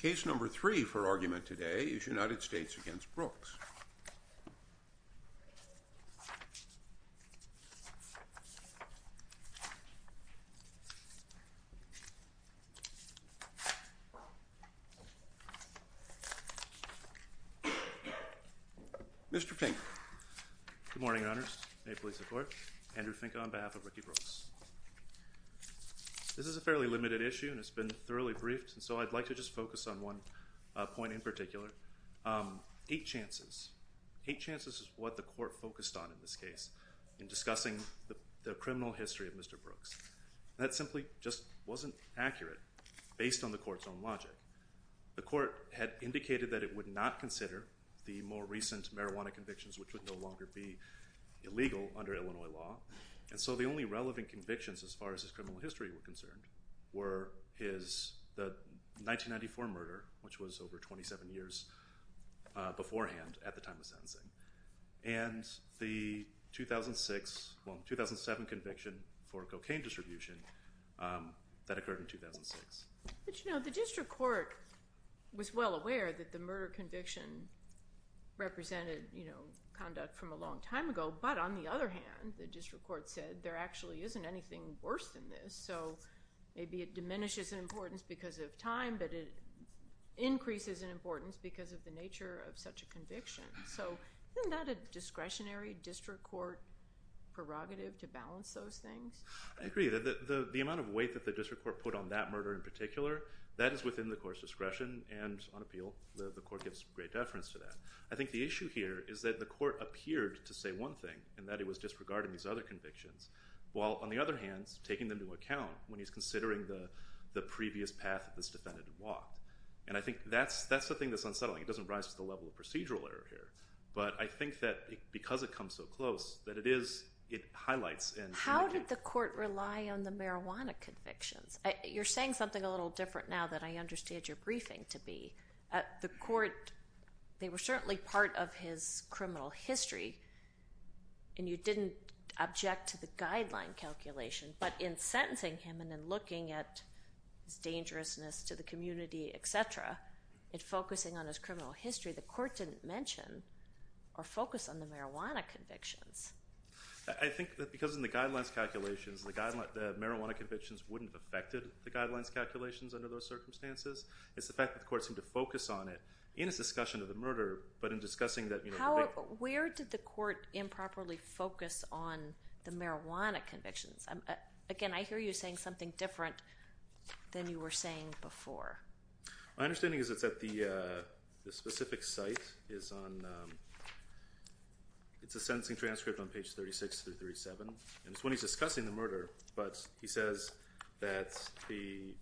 Case No. 3 for argument today is United States v. Brooks. Mr. Fink. Good morning, Your Honors. May it please the Court. Andrew Fink on behalf of Ricky Brooks. This is a fairly limited issue and it's been thoroughly briefed, so I'd like to just focus on one point in particular. Eight chances. Eight chances is what the Court focused on in this case in discussing the criminal history of Mr. Brooks. That simply just wasn't accurate based on the Court's own logic. The Court had indicated that it would not consider the more recent marijuana convictions which would no longer be illegal under Illinois law. And so the only relevant convictions as far as his criminal history were concerned were his 1994 murder, which was over 27 years beforehand at the time of sentencing, and the 2007 conviction for cocaine distribution that occurred in 2006. But, you know, the District Court was well aware that the murder conviction represented you know, conduct from a long time ago, but on the other hand, the District Court said there actually isn't anything worse than this, so maybe it diminishes in importance because of time, but it increases in importance because of the nature of such a conviction. So isn't that a discretionary District Court prerogative to balance those things? I agree. The amount of weight that the District Court put on that murder in particular, that is within the Court's discretion and on appeal. The Court gives great deference to that. I think the issue here is that the Court appeared to say one thing, and that it was disregarding these other convictions, while on the other hand, taking them into account when he's considering the previous path that this defendant had walked. And I think that's the thing that's unsettling. It doesn't rise to the level of procedural error here. But I think that because it comes so close, that it is, it highlights and... How did the Court rely on the marijuana convictions? You're saying something a little different now than I understand your briefing to be. The Court, they were certainly part of his criminal history, and you didn't object to the guideline calculation, but in sentencing him and in looking at his dangerousness to the community, etc., in focusing on his criminal history, the Court didn't mention or focus on the marijuana convictions. I think that because in the guidelines calculations, the marijuana convictions wouldn't have affected the guidelines calculations under those circumstances. It's the fact that the Court seemed to focus on it in its discussion of the murder, but in discussing that... How, where did the Court improperly focus on the marijuana convictions? Again, I hear you saying something different than you were saying before. My understanding is that it's at the specific site, it's on, it's a sentencing transcript on page 36-37. And it's when he's discussing the murder, but he says that the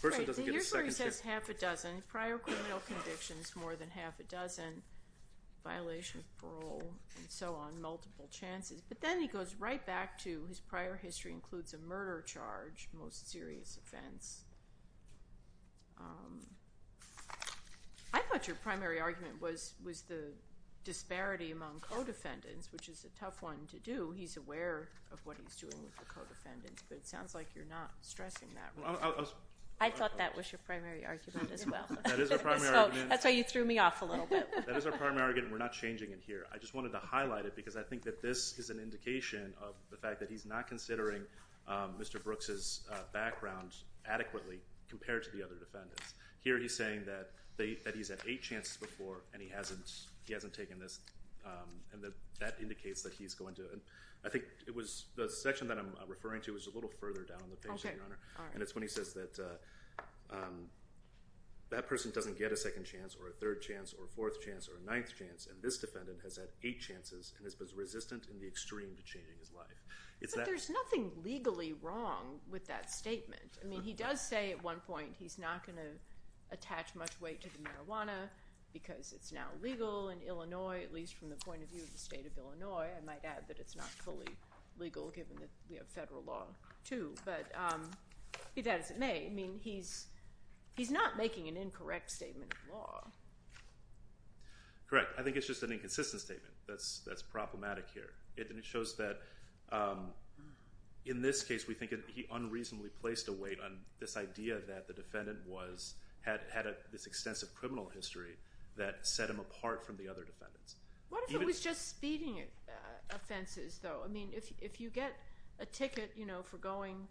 person doesn't get a second chance. Right. Here's where he says half a dozen. Prior criminal convictions, more than half a dozen. Violation of parole, and so on, multiple chances, but then he goes right back to his prior history includes a murder charge, most serious offense. I thought your primary argument was the disparity among co-defendants, which is a tough one to do. He's aware of what he's doing with the co-defendants, but it sounds like you're not stressing that one. I thought that was your primary argument as well. That is our primary argument. So, that's why you threw me off a little bit. That is our primary argument, and we're not changing it here. I just wanted to highlight it because I think that this is an indication of the fact that Mr. Brooks's background adequately compared to the other defendants. Here he's saying that he's had eight chances before, and he hasn't taken this, and that indicates that he's going to. I think it was the section that I'm referring to was a little further down on the page, Your Honor. Okay. All right. And it's when he says that that person doesn't get a second chance or a third chance or a fourth chance or a ninth chance, and this defendant has had eight chances and has been resistant in the extreme to changing his life. But there's nothing legally wrong with that statement. I mean, he does say at one point he's not going to attach much weight to the marijuana because it's now legal in Illinois, at least from the point of view of the state of Illinois. I might add that it's not fully legal given that we have federal law too, but be that as it may, I mean, he's not making an incorrect statement of law. Correct. I think it's just an inconsistent statement that's problematic here, and it shows that in this case, we think he unreasonably placed a weight on this idea that the defendant was, had this extensive criminal history that set him apart from the other defendants. What if it was just speeding offenses though? I mean, if you get a ticket, you know, for going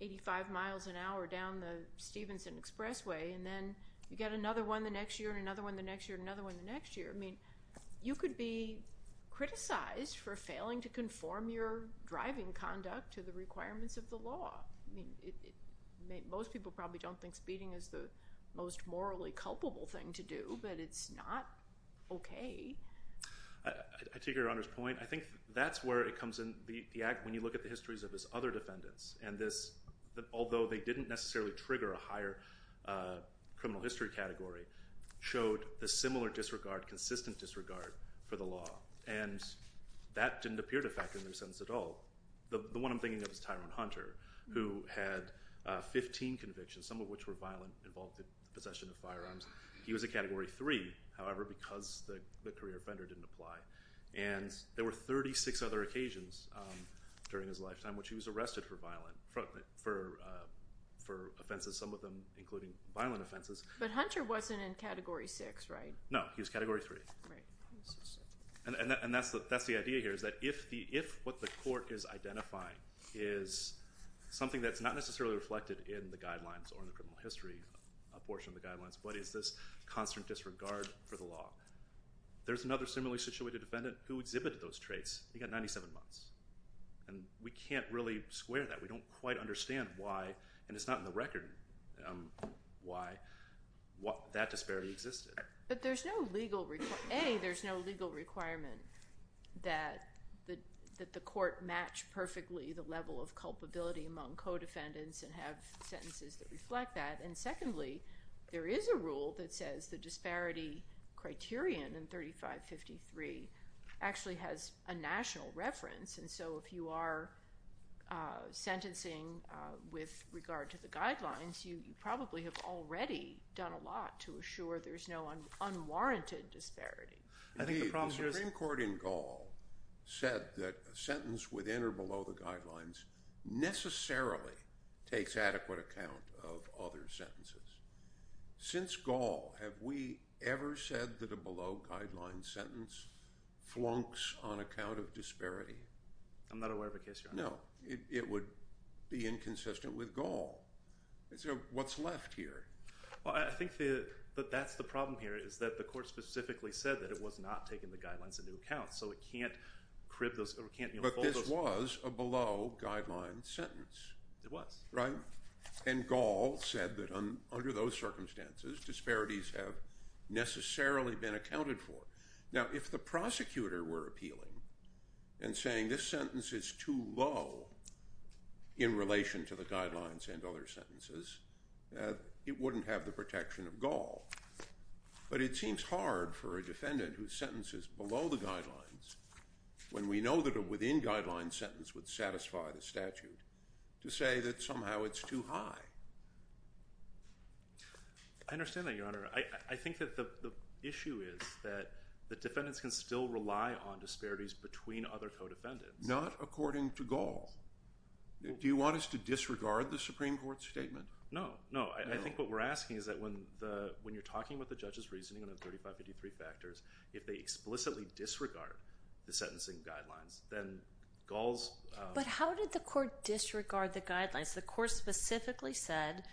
85 miles an hour down the Stevenson Expressway, and then you get another one the next year and another one the next year and You could be criticized for failing to conform your driving conduct to the requirements of the law. I mean, most people probably don't think speeding is the most morally culpable thing to do, but it's not okay. I take Your Honor's point. I think that's where it comes in, when you look at the histories of his other defendants, and this, although they didn't necessarily trigger a higher criminal history category, showed a similar disregard, consistent disregard for the law. And that didn't appear to factor in their sentence at all. The one I'm thinking of is Tyrone Hunter, who had 15 convictions, some of which were violent, involved the possession of firearms. He was a Category 3, however, because the career offender didn't apply. And there were 36 other occasions during his lifetime which he was arrested for violent, for offenses, some of them including violent offenses. But Hunter wasn't in Category 6, right? No, he was Category 3. And that's the idea here, is that if what the court is identifying is something that's not necessarily reflected in the guidelines or in the criminal history portion of the guidelines, but is this constant disregard for the law, there's another similarly situated defendant who exhibited those traits. He got 97 months. And we can't really square that. We don't quite understand why, and it's not in the record, why that disparity existed. But there's no legal, A, there's no legal requirement that the court match perfectly the level of culpability among co-defendants and have sentences that reflect that. And secondly, there is a rule that says the disparity criterion in 3553 actually has a national reference. And so if you are sentencing with regard to the guidelines, you probably have already done a lot to assure there's no unwarranted disparity. The Supreme Court in Gaul said that a sentence within or below the guidelines necessarily takes adequate account of other sentences. Since Gaul, have we ever said that a below guideline sentence flunks on account of disparity? I'm not aware of a case, Your Honor. No, it would be inconsistent with Gaul. So what's left here? Well, I think that that's the problem here, is that the court specifically said that it was not taking the guidelines into account. So it can't crib those, or it can't enfold those. But this was a below guideline sentence. It was. Right? And Gaul said that under those circumstances, disparities have necessarily been accounted for. Now, if the prosecutor were appealing and saying this sentence is too low in relation to the guidelines and other sentences, it wouldn't have the protection of Gaul. But it seems hard for a defendant whose sentence is below the guidelines, when we know that a within guideline sentence would satisfy the statute, to say that somehow it's too high. I understand that, Your Honor. I think that the issue is that the defendants can still rely on disparities between other co-defendants. Not according to Gaul. Do you want us to disregard the Supreme Court's statement? No, no. I think what we're asking is that when you're talking about the judge's reasoning on the 3553 factors, if they explicitly disregard the sentencing guidelines, then Gaul's— But how did the court disregard the guidelines? The court specifically said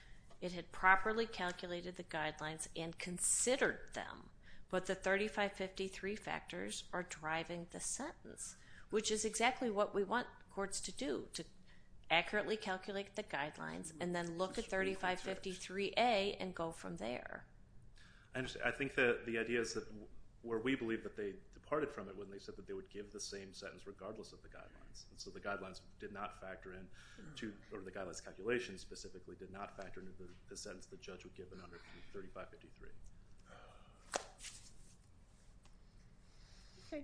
it had properly calculated the guidelines and considered them. But the 3553 factors are driving the sentence, which is exactly what we want courts to do, to accurately calculate the guidelines and then look at 3553A and go from there. I understand. I think that the idea is that where we believe that they departed from it when they said So the guidelines did not factor in—or the guidelines calculations specifically did not factor into the sentence the judge would give under 3553. Okay.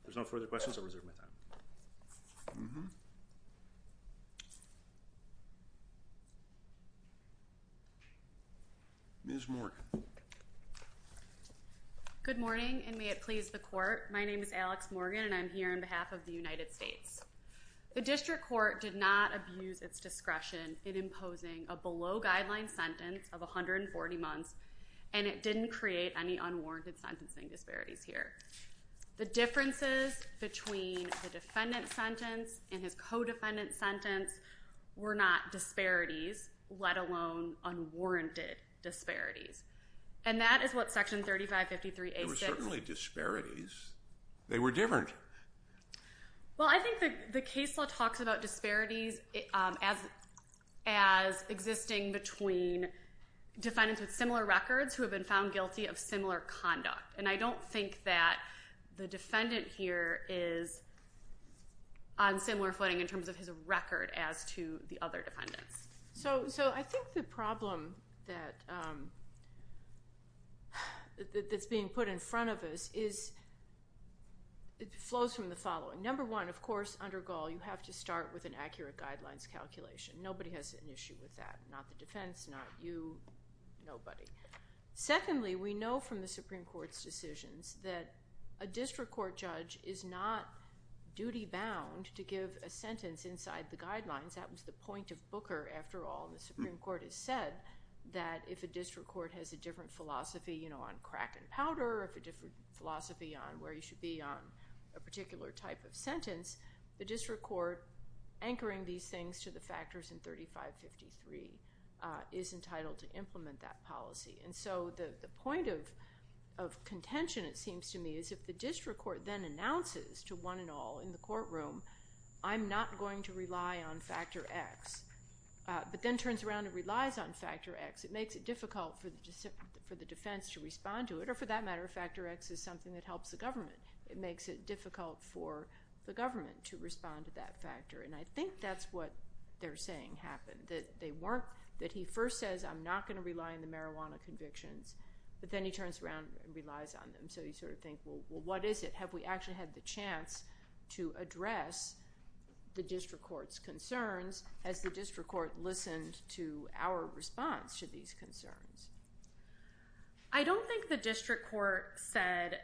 If there's no further questions, I'll reserve my time. Ms. Morgan. Good morning, and may it please the court. My name is Alex Morgan, and I'm here on behalf of the United States. The district court did not abuse its discretion in imposing a below-guideline sentence of 140 months, and it didn't create any unwarranted sentencing disparities here. The differences between the defendant's sentence and his co-defendant's sentence were not disparities, let alone unwarranted disparities. And that is what section 3553A says— they were different. Well, I think the case law talks about disparities as existing between defendants with similar records who have been found guilty of similar conduct, and I don't think that the defendant here is on similar footing in terms of his record as to the other defendants. So I think the problem that's being put in front of us is it flows from the following. Number one, of course, under Gaul, you have to start with an accurate guidelines calculation. Nobody has an issue with that. Not the defense, not you, nobody. Secondly, we know from the Supreme Court's decisions that a district court judge is not duty-bound to give a sentence inside the guidelines. That was the point of Booker, after all. The Supreme Court has said that if a district court has a different philosophy, you know, crack and powder, if a different philosophy on where you should be on a particular type of sentence, the district court anchoring these things to the factors in 3553 is entitled to implement that policy. And so the point of contention, it seems to me, is if the district court then announces to one and all in the courtroom, I'm not going to rely on factor X, but then turns around and relies on factor X, it makes it difficult for the defense to respond to it. Or for that matter, factor X is something that helps the government. It makes it difficult for the government to respond to that factor. And I think that's what they're saying happened. That they weren't, that he first says, I'm not going to rely on the marijuana convictions, but then he turns around and relies on them. So you sort of think, well, what is it? Have we actually had the chance to address the district court's concerns as the district court listened to our response to these concerns? I don't think the district court said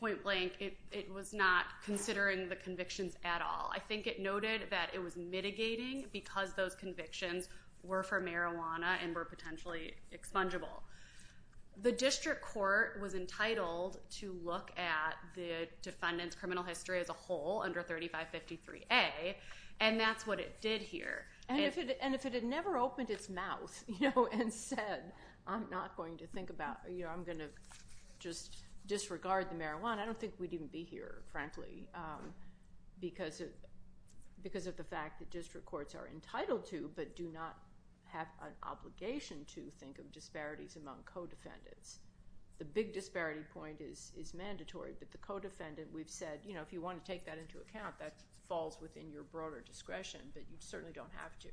point blank it was not considering the convictions at all. I think it noted that it was mitigating because those convictions were for marijuana and were potentially expungable. The district court was entitled to look at the defendant's criminal history as a whole under 3553A, and that's what it did here. And if it had never opened its mouth and said, I'm not going to think about, I'm going to just disregard the marijuana, I don't think we'd even be here, frankly, because of the fact that district courts are entitled to, but do not have an obligation to think of disparities among co-defendants. The big disparity point is mandatory that the co-defendant, we've said, if you want to take that into account, that falls within your broader discretion, but you certainly don't have to.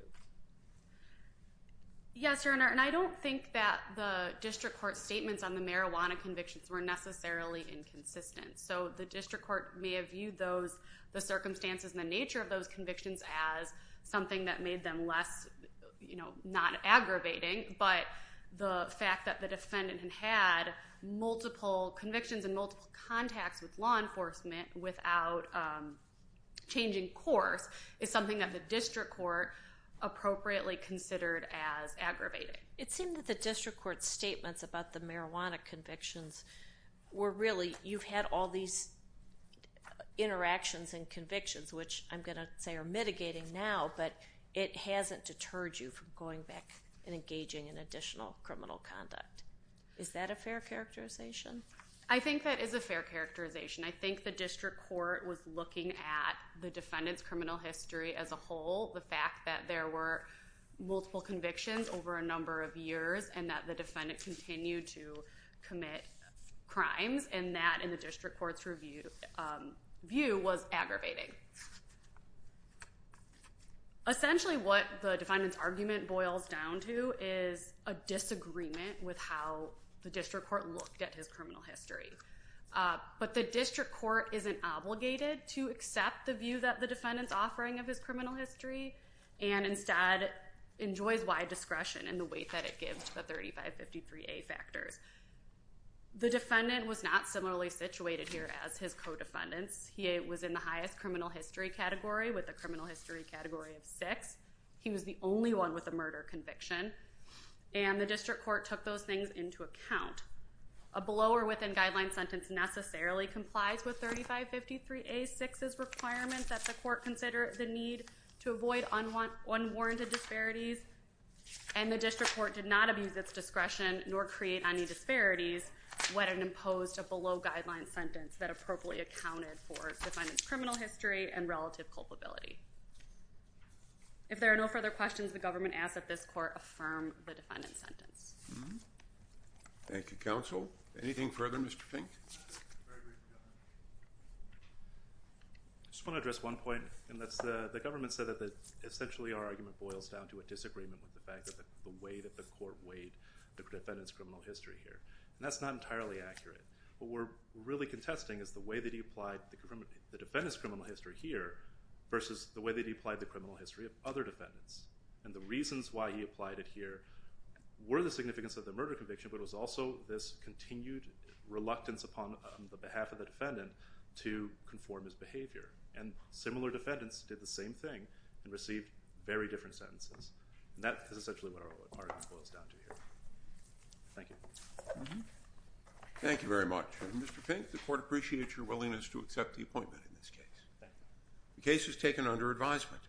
Yes, Your Honor, and I don't think that the district court's statements on the marijuana convictions were necessarily inconsistent. So the district court may have viewed the circumstances and the nature of those convictions as something that made them less, not aggravating, but the fact that the defendant had multiple convictions and multiple contacts with law enforcement without changing course is something that the district court appropriately considered as aggravating. It seemed that the district court's statements about the marijuana convictions were really, you've had all these interactions and convictions, which I'm going to say are mitigating now, but it hasn't deterred you from going back and engaging in additional criminal conduct. Is that a fair characterization? I think that is a fair characterization. I think the district court was looking at the defendant's criminal history as a whole, the fact that there were multiple convictions over a number of years and that the defendant continued to commit crimes, and that in the district court's review, view was aggravating. Essentially, what the defendant's argument boils down to is a disagreement with how the district court looked at his criminal history, but the district court isn't obligated to accept the view that the defendant's offering of his criminal history and instead enjoys wide discretion in the weight that it gives to the 3553A factors. The defendant was not similarly situated here as his co-defendants. He was in the highest criminal history category with a criminal history category of six. He was the only one with a murder conviction, and the district court took those things into account. A below or within guideline sentence necessarily complies with 3553A-6's requirement that the court consider the need to avoid unwarranted disparities, and the district court did not abuse its discretion nor create any disparities when it imposed a below guideline sentence that appropriately accounted for the defendant's criminal history and relative culpability. If there are no further questions, the government asks that this court affirm the defendant's sentence. Thank you, counsel. Anything further, Mr. Pink? I just want to address one point, and that's the government said that essentially our argument boils down to a disagreement with the fact that the way that the court weighed the defendant's criminal history here, and that's not entirely accurate. What we're really contesting is the way that he applied the defendant's criminal history here versus the way that he applied the criminal history of other defendants, and the reasons why he applied it here were the significance of the murder conviction, but it was also this continued reluctance upon the behalf of the defendant to conform his behavior, and similar defendants did the same thing and received very different sentences, and that is essentially what our argument boils down to here. Thank you. Mm-hmm. Thank you very much. Mr. Pink, the court appreciates your willingness to accept the appointment in this case. Thank you. The case is taken under advisement.